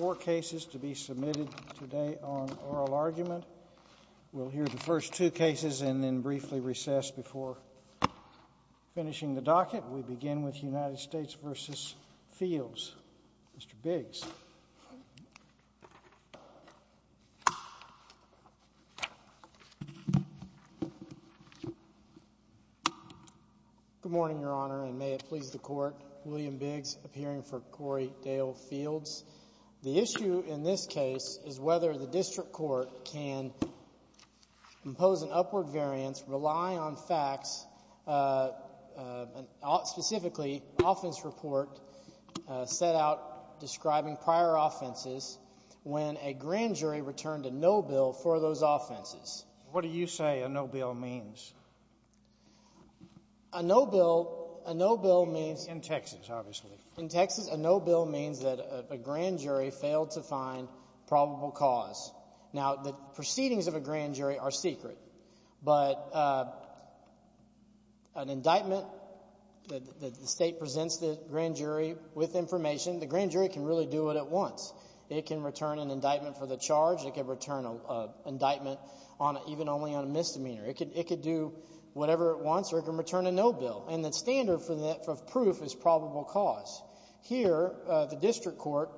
Four cases to be submitted today on oral argument. We'll hear the first two cases and then briefly recess before finishing the docket. We begin with United States v. Fields. Mr. Biggs. Good morning, Your Honor, and may it please the Court. William Biggs, appearing for Cory Dale Fields. The issue in this case is whether the district court can impose an upward variance, rely on facts, specifically, an offense report set out describing prior offenses when a grand jury returned a no bill for those offenses. What do you say a no bill means? A no bill means... In Texas, obviously. In Texas, a no bill means that a grand jury failed to find probable cause. Now, the proceedings of a grand jury are secret, but an indictment that the state presents the grand jury with information, the grand jury can really do it at once. It can return an indictment for the charge. It can return an indictment even only on a misdemeanor. It could do whatever it proves is probable cause. Here, the district court,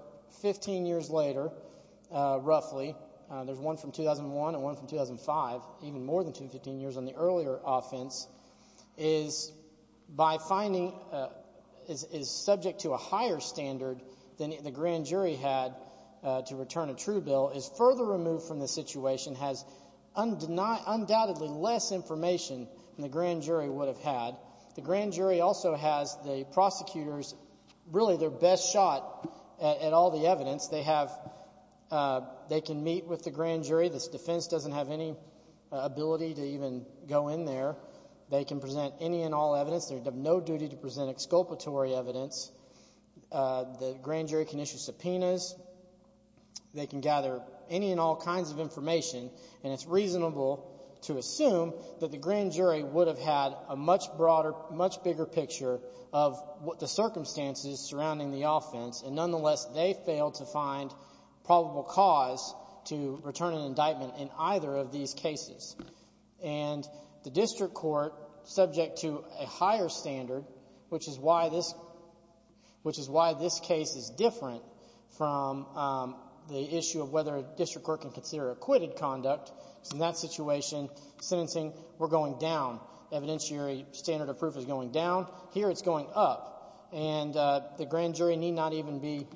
15 years later, roughly, there's one from 2001 and one from 2005, even more than 15 years on the earlier offense, is by finding, is subject to a higher standard than the grand jury had to return a true bill, is further removed from the situation, has undoubtedly less information than the grand jury would have had. The grand jury also has the prosecutor's, really, their best shot at all the evidence. They have, they can meet with the grand jury. This defense doesn't have any ability to even go in there. They can present any and all evidence. They have no duty to present exculpatory evidence. The grand jury can issue subpoenas. They can gather any and all kinds of information, and it's reasonable to assume that the grand jury would have had a much broader, much bigger picture of what the circumstances surrounding the offense, and nonetheless, they failed to find probable cause to return an indictment in either of these cases. And the district court, subject to a higher standard, which is why this case is different from the issue of whether a district court can consider acquitted conduct, is in that situation, sentencing, we're going down. The evidentiary standard of proof is going down. Here, it's going up. And the grand jury need not even be,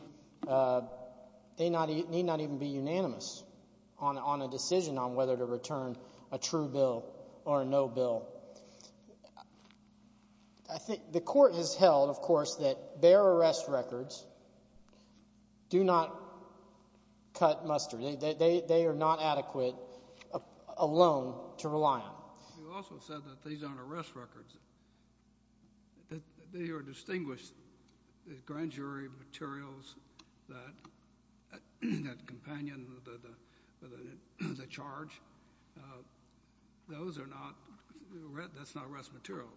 they need not even be unanimous on a decision on whether to return a true bill or a no bill. I think the court has held, of course, that bare arrest records do not cut mustard. They are not adequate alone to rely on. You also said that these aren't arrest records. They are distinguished grand jury materials that companion the charge. Those are not, that's not arrest material.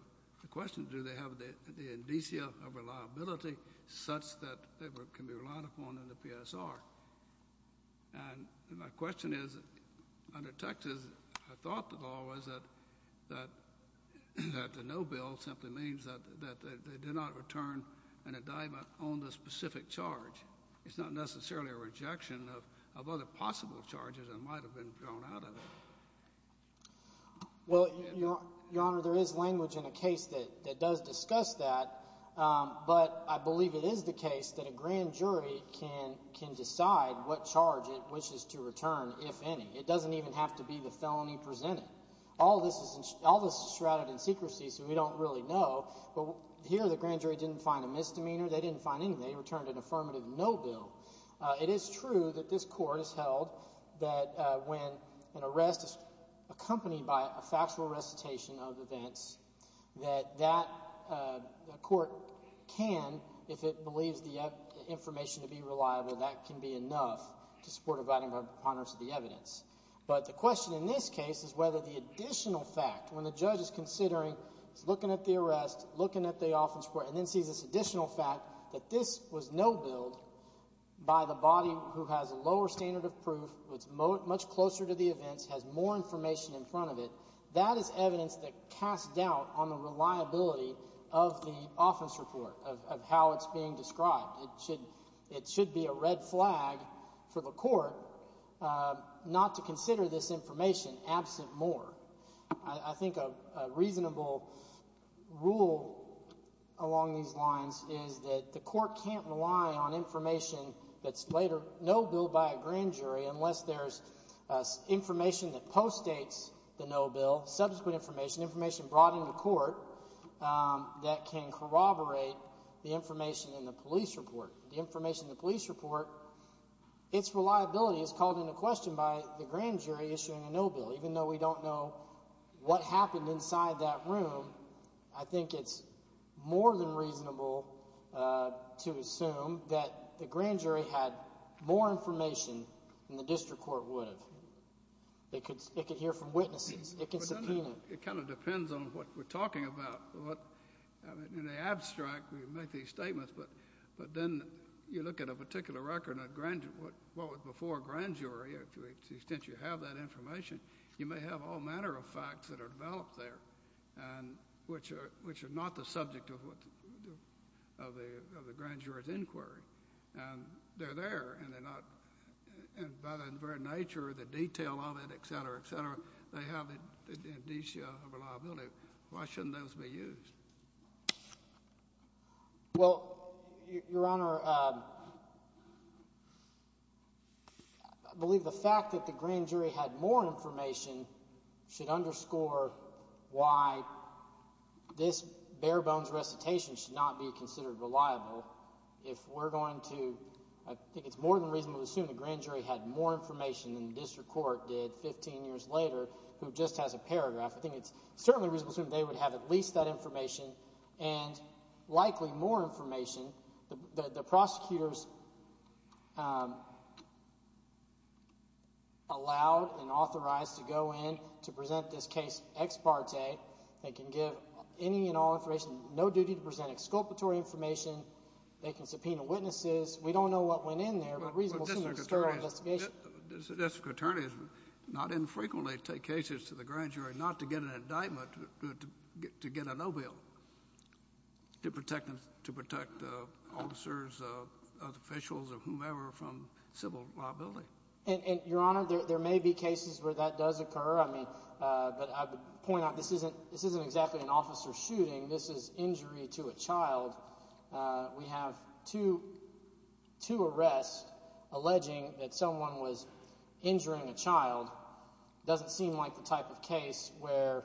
The question is, do they have the indicia of reliability such that they can be relied upon in the PSR? And my question is, under Texas, I thought the law was that the no bill simply means that they did not return an indictment on the specific charge. It's not necessarily a rejection of other possible charges that might have been drawn out of it. Well, Your Honor, there is language in a case that does discuss that, but I believe it is the case that a grand jury can decide what charge it wishes to return, if any. It doesn't even have to be the felony presented. All this is shrouded in secrecy, so we don't really know. But here, the grand jury didn't find a misdemeanor. They didn't find anything. They returned an affirmative no bill. It is true that this Court has held that when an arrest is accompanied by a factual recitation of events, that that Court can, if it believes the information to be reliable, that can be enough to support a violating of the preponderance of the evidence. But the question in this case is whether the additional fact, when the judge is considering, looking at the arrest, looking at the offense report, and then sees this additional fact that this was no billed by the body who has a lower standard of proof, who is much closer to the events, has more information in front of it, that is evidence that casts doubt on the reliability of the offense report, of how it's being described. It should be a red flag for the Court not to consider this information absent more. I think a reasonable rule along these lines is that the Court can't rely on information that's later no billed by a grand jury unless there's information that postdates the no bill, subsequent information, information brought into court that can corroborate the information in the police report. The information in the police report, its reliability is called into question by the grand jury issuing a no bill. Even though we don't know what happened inside that room, I think it's more than reasonable to assume that the grand jury had more information than the district court would have. It could hear from witnesses. It can subpoena. It kind of depends on what we're talking about. In the abstract, we make these statements, but then you look at a particular record, what was before a grand jury, to the extent you have that information, you may have all manner of facts that are developed there, which are not the subject of the grand jury's inquiry. They're there, and by their very nature, the detail of it, et cetera, et cetera, they have the indicia of reliability. Why shouldn't those be used? Well, Your Honor, I believe the fact that the grand jury had more information should underscore why this bare bones recitation should not be considered reliable. If we're going to, I think it's more than reasonable to assume the grand jury had more information than the district court did 15 years later, who just has a paragraph. I think it's certainly reasonable to assume they would have at least that information and likely more information. The prosecutors allowed and authorized to go in to present this case ex parte. They can give any and all information, no duty to present exculpatory information. They can subpoena witnesses. We don't know what went in there, but reasonable to assume it's a sterile investigation. District attorneys not infrequently take cases to the grand jury not to get an indictment, to get a no bill to protect officers, officials, or whomever from civil liability. And Your Honor, there may be cases where that does occur. I mean, but I would point out this isn't exactly an officer shooting. This is injury to a child. We have two arrests alleging that someone was injuring a child. It doesn't seem like the type of case where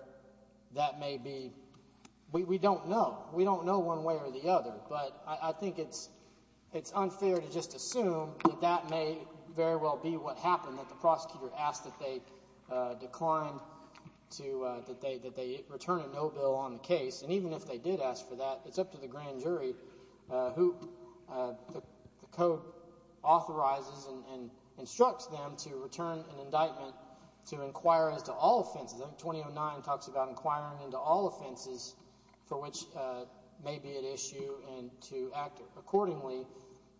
that may be. We don't know. We don't know one way or the other, but I think it's unfair to just assume that that may very well be what happened, that the prosecutor asked that they decline to, that they return a no bill on the case. And even if they did ask for that, it's up to the grand jury who the court authorizes and instructs them to return an indictment to inquire as to all offenses. I think 2009 talks about inquiring into all offenses for which may be at issue and to act accordingly.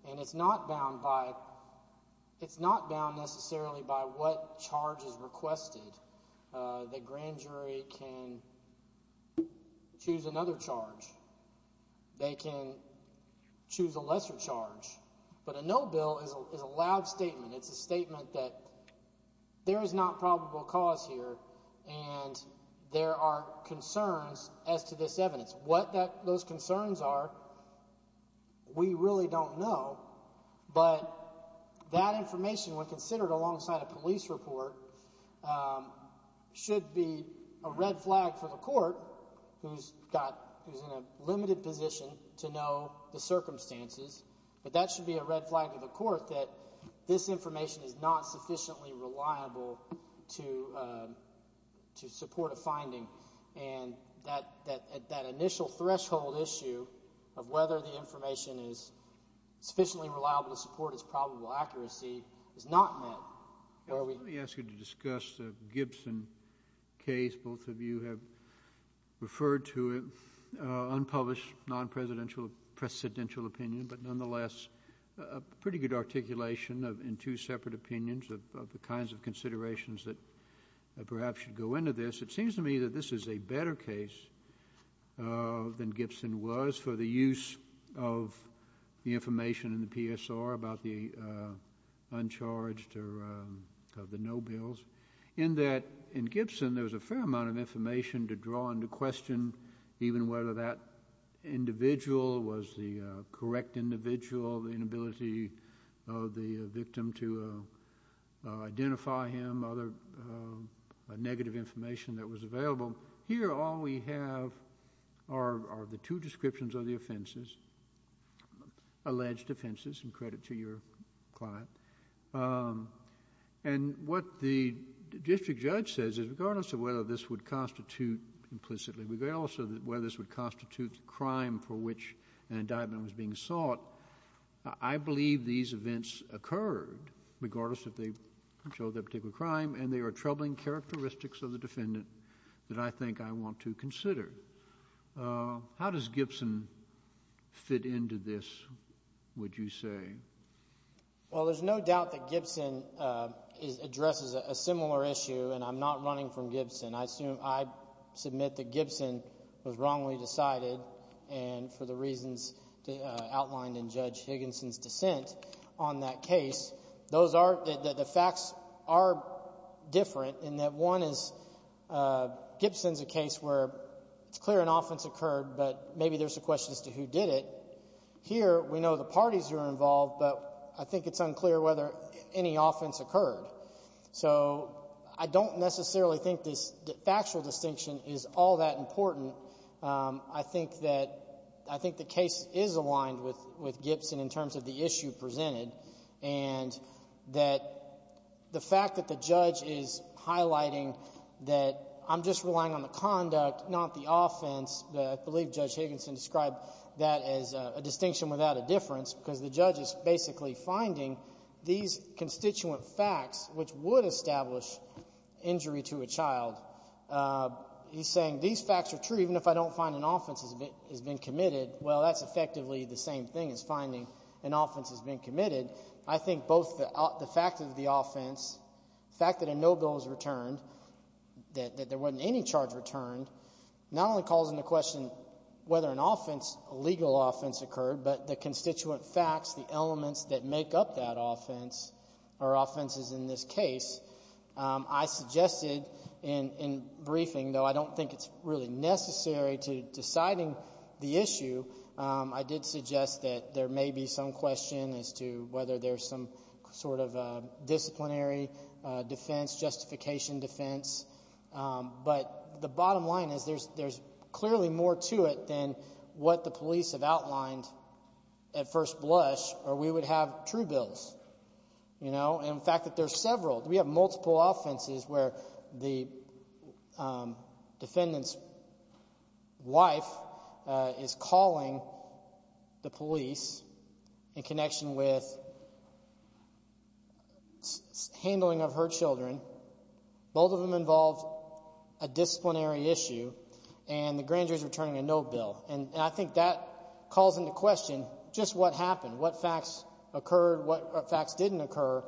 And it's not bound by, it's not bound necessarily by what charge is a lesser charge. But a no bill is a loud statement. It's a statement that there is not probable cause here and there are concerns as to this evidence. What those concerns are, we really don't know. But that information, when considered alongside a police report, um, should be a red flag for the court who's got, who's in a limited position to know the circumstances. But that should be a red flag to the court that this information is not sufficiently reliable to, uh, to support a finding. And that, that, that initial threshold issue of whether the information is sufficiently reliable to support its probable accuracy is not met. Let me ask you to discuss the Gibson case. Both of you have referred to it, uh, unpublished non-presidential, presidential opinion, but nonetheless a pretty good articulation of, in two separate opinions of, of the kinds of considerations that perhaps should go into this. It seems to me that this is a better case, uh, than Gibson was for the use of the information in the PSR about the, uh, uncharged or, um, of the no bills. In that, in Gibson there was a fair amount of information to draw into question even whether that individual was the, uh, correct individual, the inability of the victim to, uh, uh, identify him, other, uh, negative information that was available. Here all we have are, are the two descriptions of the offenses, um, alleged offenses, and credit to your client. Um, and what the district judge says is regardless of whether this would constitute implicitly, regardless of whether this would constitute the crime for which an indictment was being sought, I, I believe these events occurred regardless if they showed that particular crime and they are troubling characteristics of the crime. How does the court fit into this, would you say? Well, there's no doubt that Gibson, um, addresses a similar issue, and I'm not running from Gibson. I assume, I submit that Gibson was wrongly decided and for the reasons outlined in Judge Higginson's dissent on that case. Those are, the facts are different in that one is, uh, Gibson's a case where it's clear an offense occurred, but maybe there's a question as to who did it. Here, we know the parties who are involved, but I think it's unclear whether any offense occurred. So, I don't necessarily think this factual distinction is all that important. Um, I think that, I think the case is aligned with, with Gibson in terms of the issue presented, and that the fact that the judge is highlighting that I'm just relying on the conduct, not the offense. I believe Judge Higginson described that as a distinction without a difference, because the judge is basically finding these constituent facts, which would establish injury to a child. Uh, he's saying these facts are true, even if I don't find an offense has been committed. Well, that's effectively the same thing as finding an offense has been committed. I think both the fact of the offense, the fact that a there wasn't any charge returned, not only calls into question whether an offense, a legal offense occurred, but the constituent facts, the elements that make up that offense, or offenses in this case. Um, I suggested in, in briefing, though I don't think it's really necessary to deciding the issue, um, I did suggest that there may be some question as to whether there's some sort of, uh, disciplinary, uh, defense, justification defense. Um, but the bottom line is there's, there's clearly more to it than what the police have outlined at first blush, or we would have true bills, you know, and the fact that there's several, we have multiple offenses where the, um, defendant's wife, uh, is calling the police in connection with handling of her children, both of them involved a disciplinary issue and the grand jury is returning a no bill. And I think that calls into question just what happened, what facts occurred, what facts didn't occur.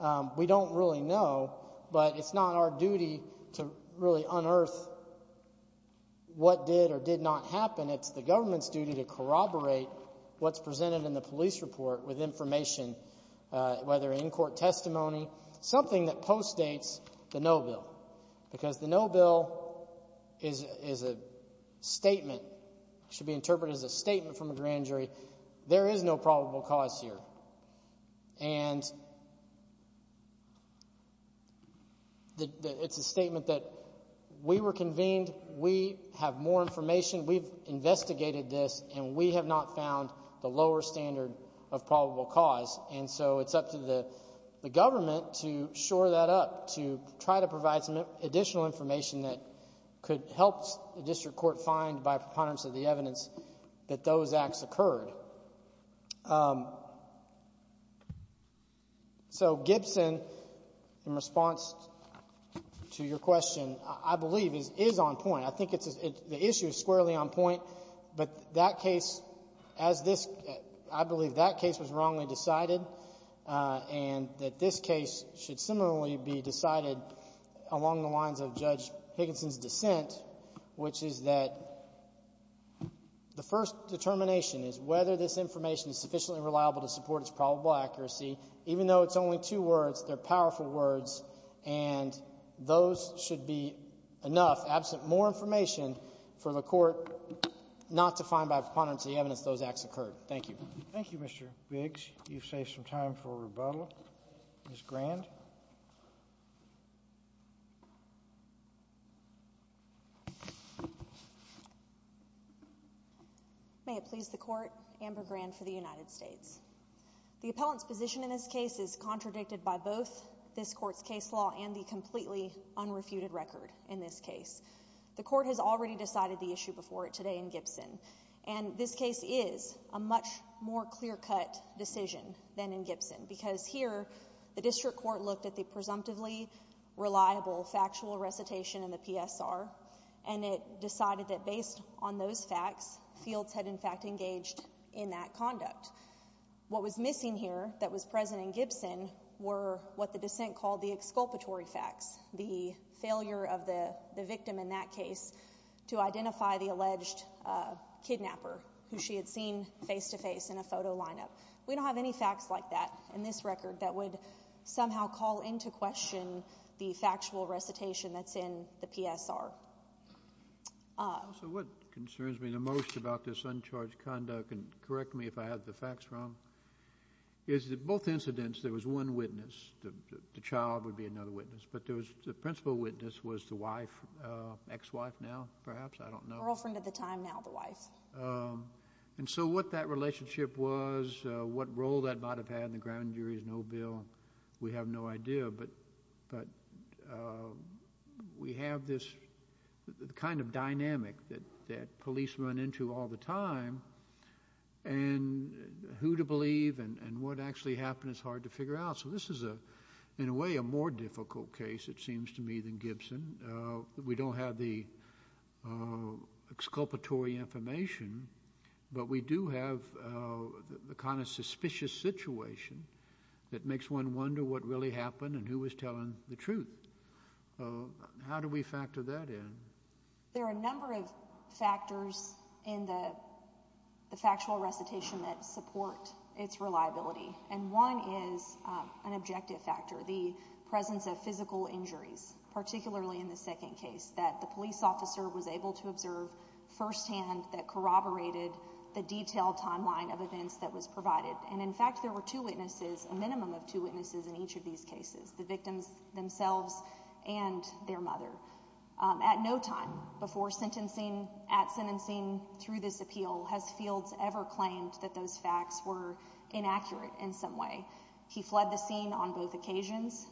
Um, we don't really know, but it's not our duty to really unearth what did or did not happen. It's the government's duty to corroborate what's presented in the police report with information, uh, whether in court testimony, something that postdates the no bill, because the no bill is, is a statement, should be interpreted as a statement from a grand jury. There is no probable cause here. And it's a statement that we were convened, we have more information, we've investigated this, and we have not found the lower standard of probable cause. And so it's up to the, the government to shore that up, to try to provide some additional information that could help the district court find by preponderance of the evidence that those acts occurred. So Gibson, in response to your question, I believe is, is on point. I think it's, the issue is squarely on point, but that case, as this, I believe that case was wrongly decided, uh, and that this case should similarly be decided along the lines of Judge Higginson's dissent, which is that the first determination is whether this information is sufficiently reliable to support its probable accuracy, even though it's only two words, they're powerful words and those should be enough, absent more information for the court not to find by dissent. May it please the court, Amber Grand for the United States. The appellant's position in this case is contradicted by both this court's case law and the completely unrefuted record in this case. The court has already decided the issue before it today in Gibson, and this case is a more clear-cut decision than in Gibson because here the district court looked at the presumptively reliable factual recitation in the PSR and it decided that based on those facts, fields had in fact engaged in that conduct. What was missing here that was present in Gibson were what the dissent called the exculpatory facts, the failure of the victim in that case to identify the alleged kidnapper who she had seen face-to-face in a photo lineup. We don't have any facts like that in this record that would somehow call into question the factual recitation that's in the PSR. So what concerns me the most about this uncharged conduct, and correct me if I have the facts wrong, is that both incidents there was one witness, the child would be another witness, but there was a principal witness was the wife, ex-wife now perhaps, I don't know. Girlfriend at the time, now the wife. And so what that relationship was, what role that might have had in the ground jury is no bill. We have no idea, but we have this kind of dynamic that police run into all the time and who to believe and what actually happened is hard to figure out. So this is a, in a way, a more difficult case it seems to me than Gibson. We don't have the exculpatory information, but we do have the kind of suspicious situation that makes one wonder what really happened and who was telling the truth. How do we factor that in? There are a number of factors in the factual recitation that support its reliability, and one is an objective factor, the presence of physical injuries, particularly in the second case, that the police officer was able to observe firsthand that corroborated the detailed timeline of events that was provided. And in fact there were two witnesses, a minimum of two witnesses in each of these cases, the victims themselves and their mother. At no time before sentencing, at sentencing, through this appeal, has Fields ever claimed that those facts were inaccurate in some way. He fled the scene on both occasions,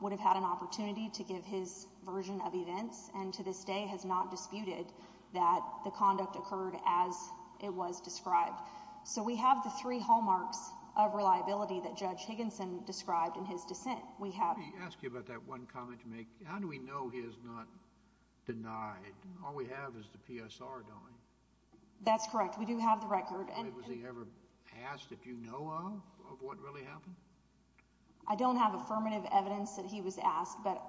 would have had an opportunity to give his version of events, and to this day has not disputed that the conduct occurred as it was described. So we have the three hallmarks of reliability that Judge Higginson described in his dissent. We have... Let me ask you about that one comment to make. How do we know he is not denied? All we have is the PSR, don't we? That's correct. We do have the record. Was he ever asked if you know of what really happened? I don't have affirmative evidence that he was asked, but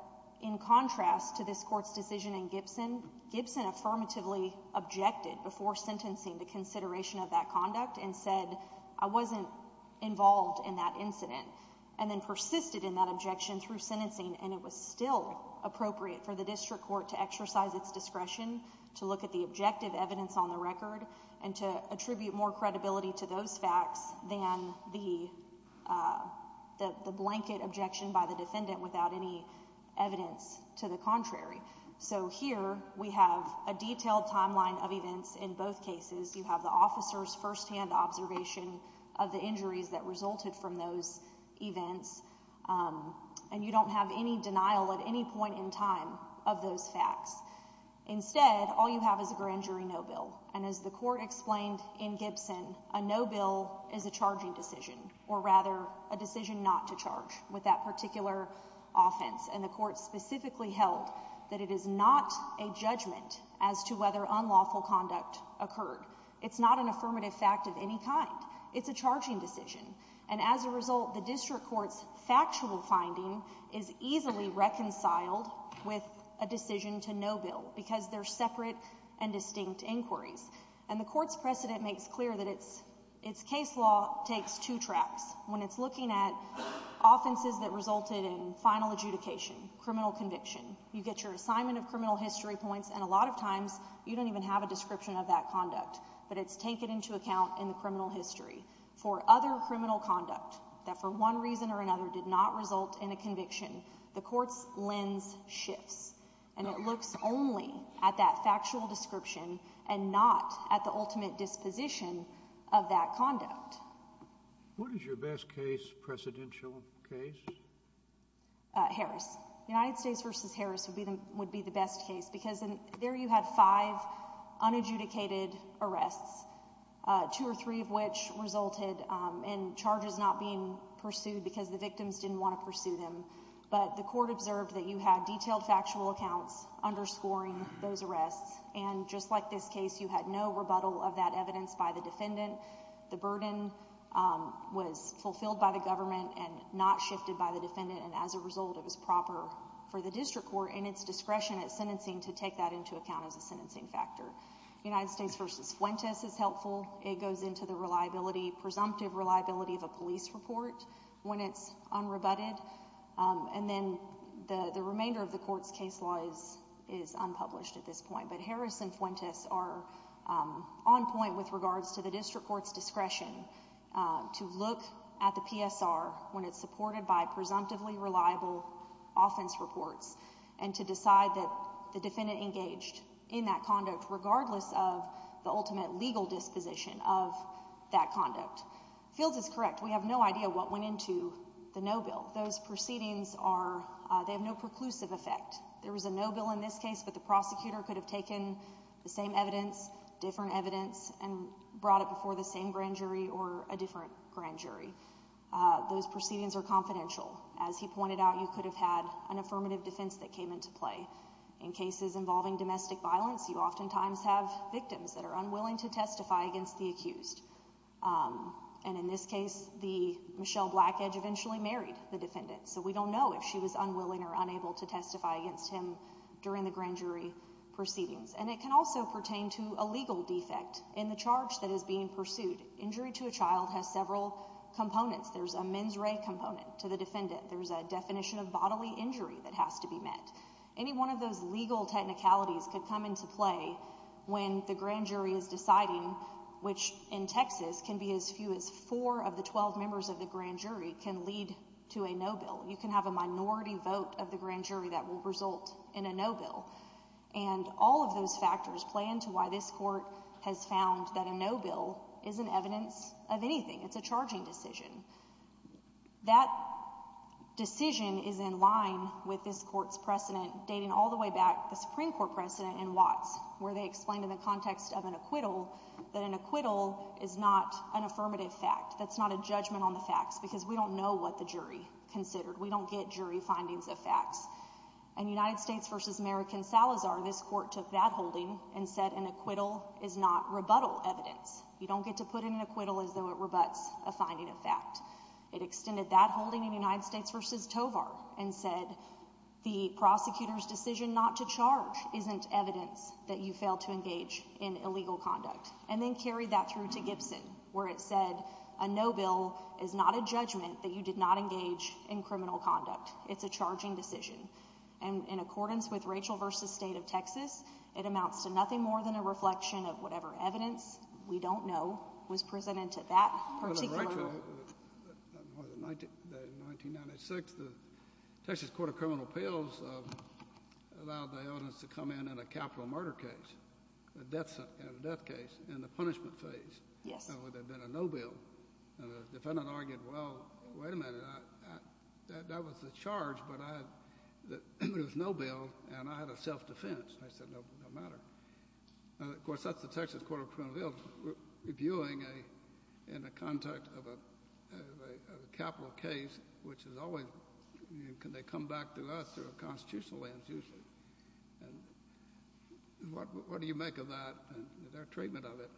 in contrast to this court's decision in Gibson, Gibson affirmatively objected before sentencing the consideration of that conduct and said, I wasn't involved in that incident, and then persisted in that objection through sentencing, and it was still appropriate for the district court to exercise its discretion to look at the objective evidence on the record and to attribute more credibility to those facts than the blanket objection by the defendant without any evidence to the contrary. So here we have a detailed timeline of events in both cases. You have the officer's firsthand observation of the injuries that resulted from those events, and you don't have any denial at any point in time of those facts. Instead, all you have is a grand jury no bill, and as the court explained in Gibson, a no bill is a charging decision, or rather a decision not to charge with that particular offense, and the court specifically held that it is not a judgment as to whether unlawful conduct occurred. It's not an affirmative fact of any kind. It's a charging decision, and as a result, the district court's factual finding is easily reconciled with a decision to no bill because they're separate and distinct inquiries, and the court's precedent makes clear that its case law takes two tracks. When it's looking at offenses that resulted in final adjudication, criminal conviction, you get your assignment of criminal history points, and a lot of times you don't even have a description of that conduct, but it's taken into account in the criminal history for other criminal conduct that for one reason or another did not result in a conviction. The court's lens shifts, and it looks only at that factual description and not at the ultimate disposition of that conduct. What is your best case, precedential case? Harris. United States v. Harris would be the best case because there you had five unadjudicated arrests, two or three of which resulted in charges not being pursued because the victims didn't want to pursue them, but the court observed that you had detailed factual accounts underscoring those arrests, and just like this case, you had no rebuttal of that evidence by the defendant. The burden was fulfilled by the government and not shifted by the defendant, and as a result, it was proper for the district court and its discretion at sentencing to take that into account as a sentencing factor. United States v. Fuentes is helpful. It goes into the presumptive reliability of a police report when it's unrebutted, and then the remainder of the court's case law is unpublished at this point, but Harris and Fuentes are on point with regards to the district court's discretion to look at the PSR when it's supported by presumptively reliable offense reports and to decide that the defendant engaged in that conduct regardless of the ultimate legal disposition of that conduct. Fields is correct. We have no idea what went into the no bill. Those proceedings have no preclusive effect. There was a no bill in this case, but the prosecutor could have taken the same evidence, different evidence, and brought it before the same grand jury or a different grand jury. Those proceedings are confidential. As he pointed out, you could have had an affirmative defense that came into play. In cases involving domestic violence, you oftentimes have victims that are unwilling to testify against the accused. And in this case, the Michelle Blackedge eventually married the defendant, so we don't know if she was unwilling or unable to testify against him during the grand jury proceedings. And it can also pertain to a legal defect in the charge that is being pursued. Injury to a child has several components. There's a mens re component to the defendant. There's a definition of bodily injury that has to be met. Any one of those legal technicalities could come into play when the grand jury is deciding, which in Texas can be as few as four of the 12 members of the grand jury can lead to a no bill. You can have a minority vote of the grand jury that will result in a no bill. And all of those factors play into why this court has found that a no bill is an evidence of anything. It's a charging decision. That decision is in line with this court's precedent dating all the way back to the Supreme Court precedent in Watts, where they explained in the context of an acquittal that an acquittal is not an affirmative fact. That's not a judgment on the facts, because we don't know what the jury considered. We don't get jury findings of facts. In United States v. American Salazar, this court took that holding and said an acquittal is not rebuttal evidence. You don't get to put in an acquittal as though it rebutts a finding of fact. It extended that holding in United States v. Tovar and said the prosecutor's decision not to charge isn't evidence that you failed to engage in illegal conduct. And then carried that through to Gibson, where it said a no bill is not a judgment that you did not engage in criminal conduct. It's a charging decision. And in accordance with Rachel v. State of Texas, it amounts to nothing more than a reflection of whatever evidence we don't know was presented to that particular court. But Rachel, in 1996, the Texas Court of Criminal Appeals allowed the evidence to come in in a capital murder case, a death case, in the punishment phase, where there had been a no bill. And the defendant argued, well, wait a minute, that was the charge, but it was no bill, and I had a self-defense. I said, no matter. Of course, that's the Texas Court of Criminal Appeals reviewing in the context of a capital case, which is always, can they come back to us through a constitutional land-use? And what do you make of that and their treatment of it?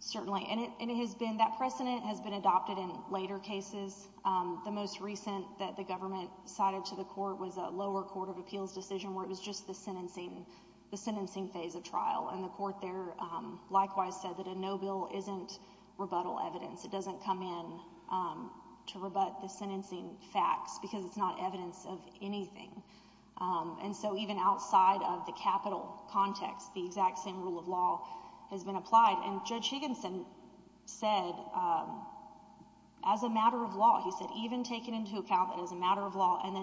Certainly. And it has been, that precedent has been adopted in later cases. The most recent that the government cited to the court was a lower court of appeals decision where it was just the sentencing phase of trial. And the court there likewise said that a no bill isn't rebuttal evidence. It doesn't come in to rebut the sentencing facts, because it's not evidence of anything. And so even outside of the capital context, the exact same rule of law has been and then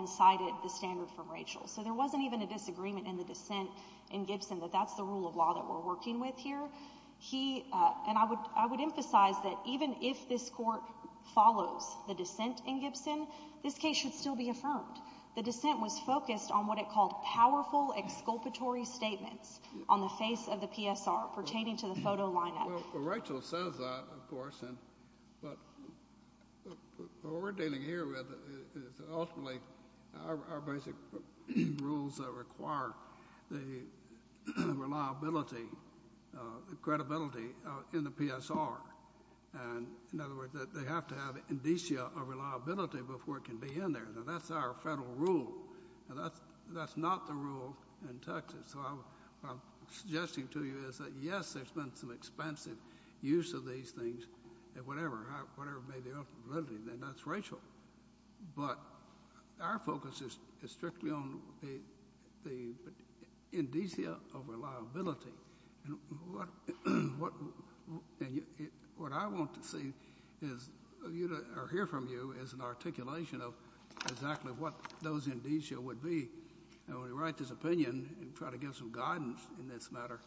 cited the standard from Rachel. So there wasn't even a disagreement in the dissent in Gibson that that's the rule of law that we're working with here. And I would emphasize that even if this court follows the dissent in Gibson, this case should still be affirmed. The dissent was focused on what it called powerful exculpatory statements on the face of the PSR pertaining to the photo lineup. Rachel says that, of course, but what we're dealing here with is ultimately our basic rules that require the reliability, the credibility in the PSR. And in other words, they have to have indicia of reliability before it can be in there. Now, that's our federal rule. That's not the rule in Texas. So what I'm suggesting to you is that, yes, there's been some expansive use of these things and whatever, whatever may be the reliability, then that's Rachel. But our focus is strictly on the indicia of reliability. And what I want to see is or hear from you is an articulation of exactly what those indicia would be. And when we write this opinion and try to give some guidance in this matter,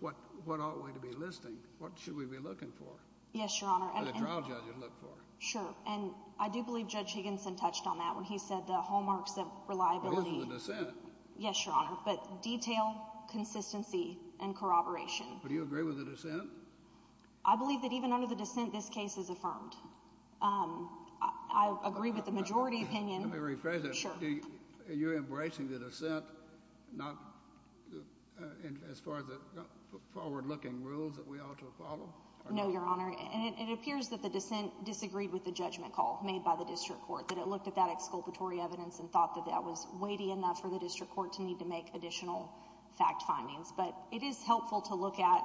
what what ought we to be listing? What should we be looking for? Yes, Your Honor. And the trial judges look for. Sure. And I do believe Judge Higginson touched on that when he said the hallmarks of reliability. Yes, Your Honor. But detail, consistency and corroboration. Do you agree with the dissent? I believe that even under dissent, this case is affirmed. I agree with the majority opinion. Let me rephrase that. You're embracing the dissent not as far as the forward looking rules that we ought to follow? No, Your Honor. And it appears that the dissent disagreed with the judgment call made by the district court, that it looked at that exculpatory evidence and thought that that was weighty enough for the district court to need to make additional fact findings. But it is helpful to look at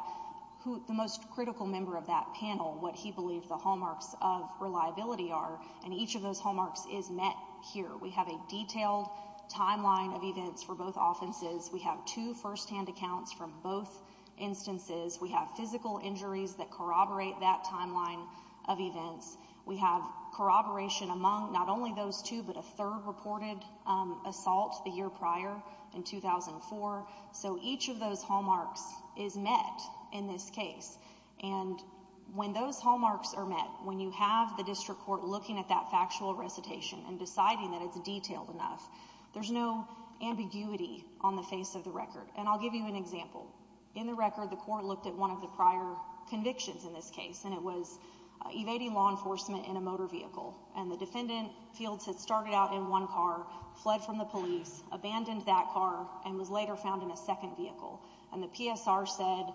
the most critical member of that panel, what he believes the hallmarks of reliability are. And each of those hallmarks is met here. We have a detailed timeline of events for both offenses. We have two firsthand accounts from both instances. We have physical injuries that corroborate that timeline of events. We have corroboration among not only those two, but a third reported assault the year prior in 2004. So each of those hallmarks is met in this case. And when those hallmarks are met, when you have the district court looking at that factual recitation and deciding that it's detailed enough, there's no ambiguity on the face of the record. And I'll give you an example. In the record, the court looked at one of the prior convictions in this case, and it was evading law enforcement in a motor vehicle. And the defendant feels it started out in one car, fled from the police, abandoned that car, and was later found in a second vehicle. And the PSR said,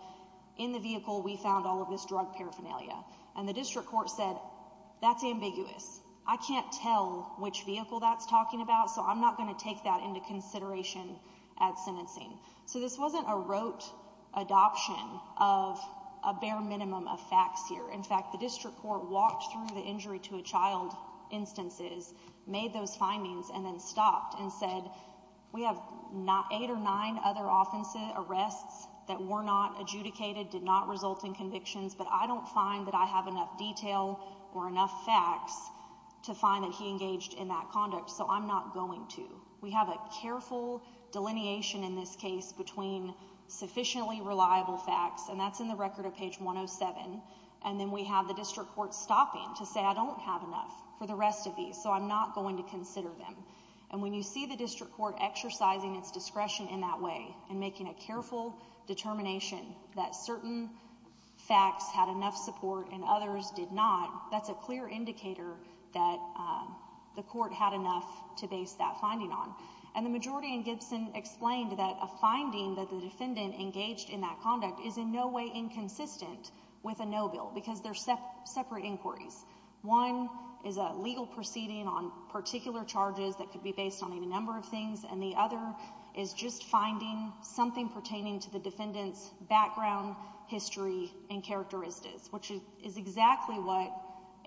in the vehicle, we found all of this drug paraphernalia. And the district court said, that's ambiguous. I can't tell which vehicle that's talking about, so I'm not going to take that into consideration at sentencing. So this wasn't a rote adoption of a bare minimum of facts here. In fact, the district court walked through the injury to a child instances, made those findings, and then stopped and said, we have eight or nine other offenses, arrests that were not adjudicated, did not result in convictions, but I don't find that I have enough detail or enough facts to find that he engaged in that conduct, so I'm not going to. We have a careful delineation in this case between sufficiently reliable facts, and that's in the record of page 107, and then we have the district court stopping to say, I don't have enough for the rest of these, so I'm not going to consider them. And when you see the district court exercising its discretion in that way, and making a careful determination that certain facts had enough support and others did not, that's a clear indicator that the court had enough to base that finding on. And the majority in Gibson explained that a finding that the defendant engaged in that conduct is in no way inconsistent with a no bill, because they're separate inquiries. One is a legal proceeding on particular charges that could be based on a number of things, and the other is just finding something pertaining to the defendant's is exactly what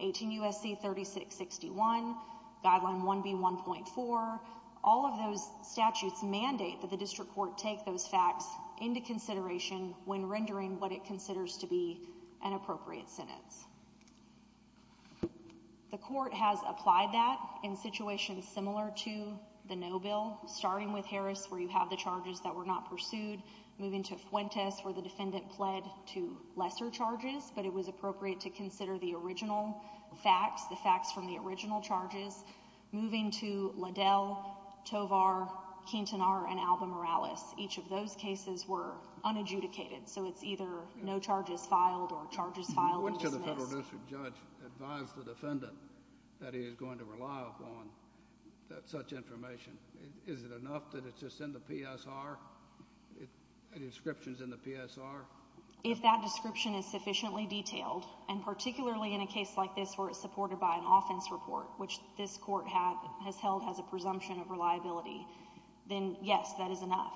18 U.S.C. 3661, Guideline 1B.1.4, all of those statutes mandate that the district court take those facts into consideration when rendering what it considers to be an appropriate sentence. The court has applied that in situations similar to the no bill, starting with Harris, where you have the charges that were not pursued, moving to Fuentes, where the defendant pled to consider the original facts, the facts from the original charges, moving to Liddell, Tovar, Quintanar, and Alba Morales. Each of those cases were unadjudicated, so it's either no charges filed or charges filed and dismissed. Which of the federal district judge advised the defendant that he is going to rely upon such information? Is it enough that it's just in the PSR? Any descriptions in the PSR? If that description is sufficiently detailed, and particularly in a case like this where it's supported by an offense report, which this court has held as a presumption of reliability, then yes, that is enough.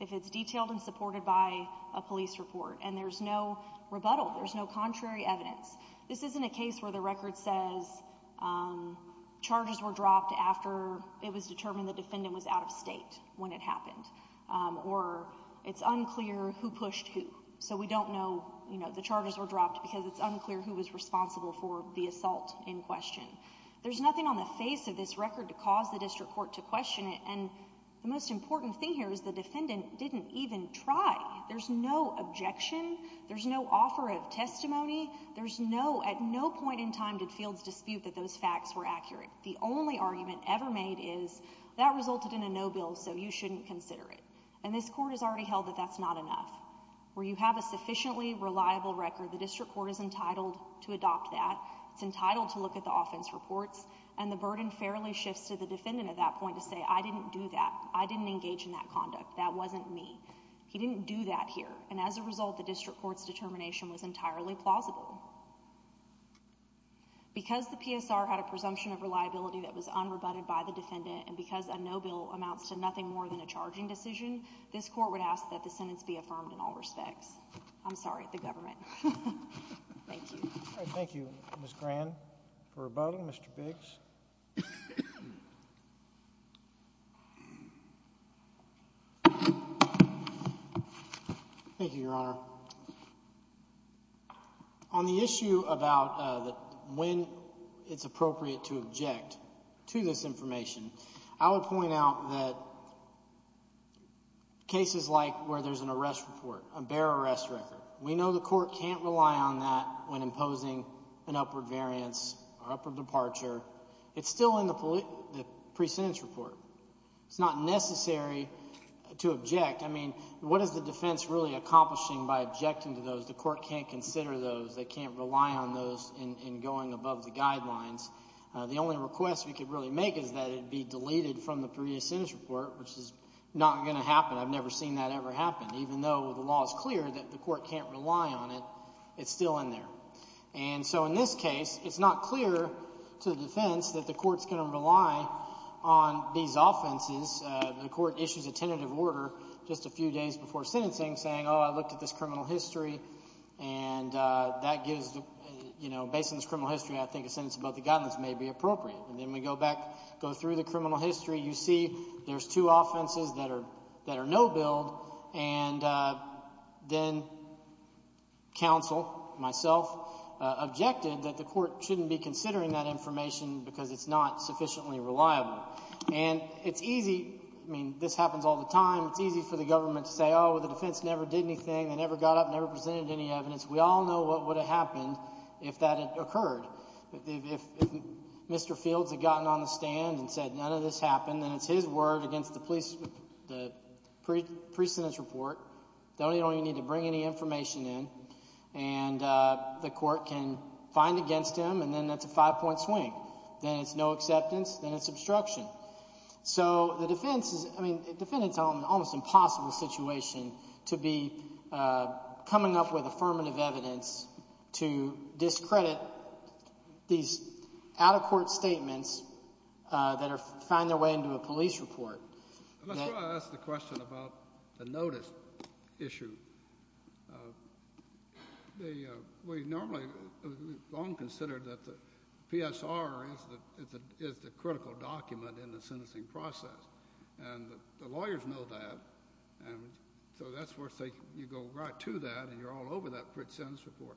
If it's detailed and supported by a police report, and there's no rebuttal, there's no contrary evidence, this isn't a case where the record says charges were dropped after it was determined the defendant was out of state when it happened. Or it's unclear who pushed who. So we don't know, you know, the charges were dropped because it's unclear who was responsible for the assault in question. There's nothing on the face of this record to cause the district court to question it, and the most important thing here is the defendant didn't even try. There's no objection, there's no offer of testimony, there's no, at no point in time did fields dispute that those facts were accurate. The only argument ever made is that resulted in a no bill, so you shouldn't consider it. And this court has already held that that's not enough. Where you have a sufficiently reliable record, the district court is entitled to adopt that. It's entitled to look at the offense reports, and the burden fairly shifts to the defendant at that point to say, I didn't do that. I didn't engage in that conduct. That wasn't me. He didn't do that here. And as a result, the district court's determination was entirely plausible. Because the PSR had a presumption of reliability that was unrebutted by the defendant, and because a no bill amounts to nothing more than a charging decision, this court would ask that the sentence be affirmed in all respects. I'm sorry, the government. Thank you. Thank you, Ms. Grand, for rebuttal. Mr. Biggs. Thank you, Your Honor. On the issue about when it's appropriate to object to this information, I would point out that cases like where there's an arrest report, a bare arrest record, we know the court can't rely on that when imposing an upward variance or upward departure. It's still in the pre-sentence report. It's not necessary to object. I mean, what is the defense really accomplishing by objecting to those? The court can't consider those. They can't rely on those in going above the guidelines. The only request we could really make is that it be deleted from the pre-sentence report, which is not going to happen. I've never seen that ever happen. Even though the law is clear that the court can't rely on it, it's still in there. And so in this case, it's not clear to the defense that the court's going to rely on these offenses. The court issues a tentative order just a few days before sentencing saying, oh, I looked at this criminal history, and that gives, you know, based on this criminal history, I think a sentence above the guidelines may be appropriate. And then we go back, go through the criminal history, you see there's two offenses that are no-build, and then counsel, myself, objected that the court shouldn't be considering that information because it's not sufficiently reliable. And it's easy, I mean, this happens all the time, it's easy for the government to say, oh, the defense never did anything, they never got up, if that had occurred. If Mr. Fields had gotten on the stand and said none of this happened, then it's his word against the pre-sentence report, they don't even need to bring any information in, and the court can find against him, and then that's a five-point swing. Then it's no acceptance, then it's obstruction. So the defense is, I mean, the defendant's in an almost impossible situation to be coming up with affirmative evidence to discredit these out-of-court statements that find their way into a police report. Let's go ahead and ask the question about the notice issue. We normally, we've long considered that the PSR is the critical document in the sentencing process, and the lawyers know that, and so that's where you go right to that, and you're all over that pre-sentence report.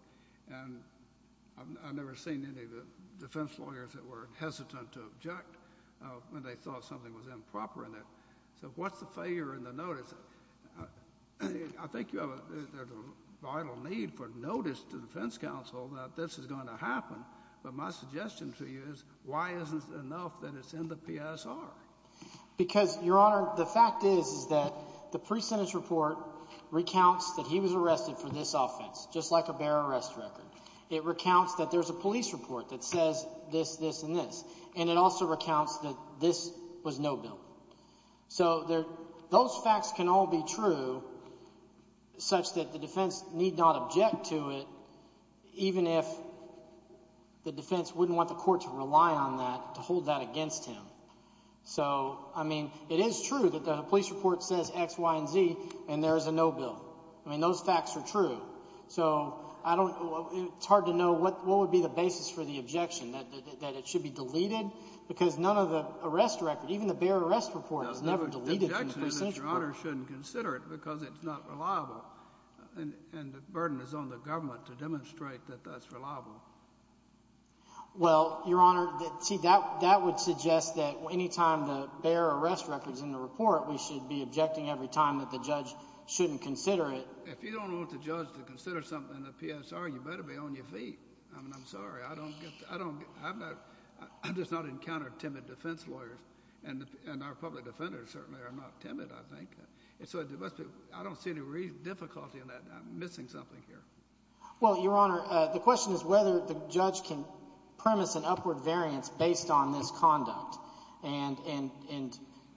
And I've never seen any of the defense lawyers that were hesitant to object when they thought something was improper in it. So what's the failure in the notice? I think you have a vital need for notice to the defense counsel that this is going to happen, but my suggestion to you is, why isn't it enough that it's in the PSR? Because, Your Honor, the fact is, is that the pre-sentence report recounts that he was arrested for this offense, just like a bare arrest record. It recounts that there's a police report that says this, this, and this, and it also recounts that this was no bill. So those facts can all be true such that the defense need not object to it, even if the defense wouldn't want the court to rely on that, to hold that against him. So, I mean, it is true that the police report says X, Y, and Z, and there is a no bill. I mean, those facts are true. So I don't, it's hard to know what would be the basis for the objection, that it should be deleted? Because none of the arrest record, even the bare arrest report, is never deleted from the pre-sentence report. But Your Honor shouldn't consider it because it's not reliable, and the burden is on the government to demonstrate that that's reliable. Well, Your Honor, see, that would suggest that any time the bare arrest record's in the report, we should be objecting every time that the judge shouldn't consider it. If you don't want the judge to consider something in the PSR, you better be on your feet. I mean, I'm sorry. I don't get, I don't, I've not, I've just not encountered timid defense lawyers, and our public defenders certainly are not timid, I think. So it must be, I don't see any difficulty in that. I'm missing something here. Well, Your Honor, the question is whether the judge can premise an upward variance based on this conduct, and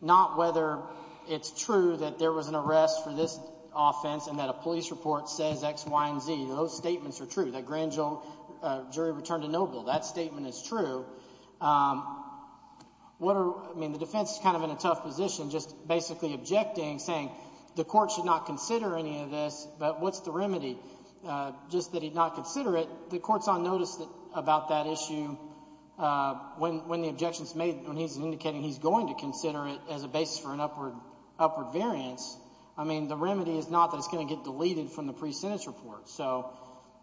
not whether it's true that there was an arrest for this offense and that a police report says X, Y, and Z. Those statements are true. That grand jury returned a no bill. That statement is true. What are, I mean, the defense is kind of in a tough position just basically objecting, saying the court should not consider any of this, but what's the remedy? Just that he'd not consider it. The court's on notice about that issue when the objection's made, when he's indicating he's going to consider it as a basis for an upward variance. I mean, the remedy is not that it's going to get deleted from the pre-sentence report. So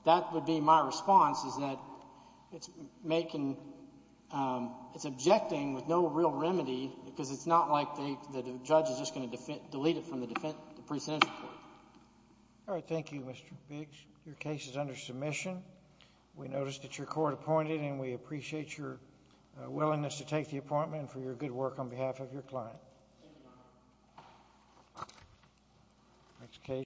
that would be my response, is that it's making, it's objecting with no real remedy because it's not like the judge is just going to delete it from the pre-sentence report. All right. Thank you, Mr. Biggs. Your case is under submission. We notice that your court appointed, and we appreciate your willingness to take the appointment, and for your good work on behalf of your client.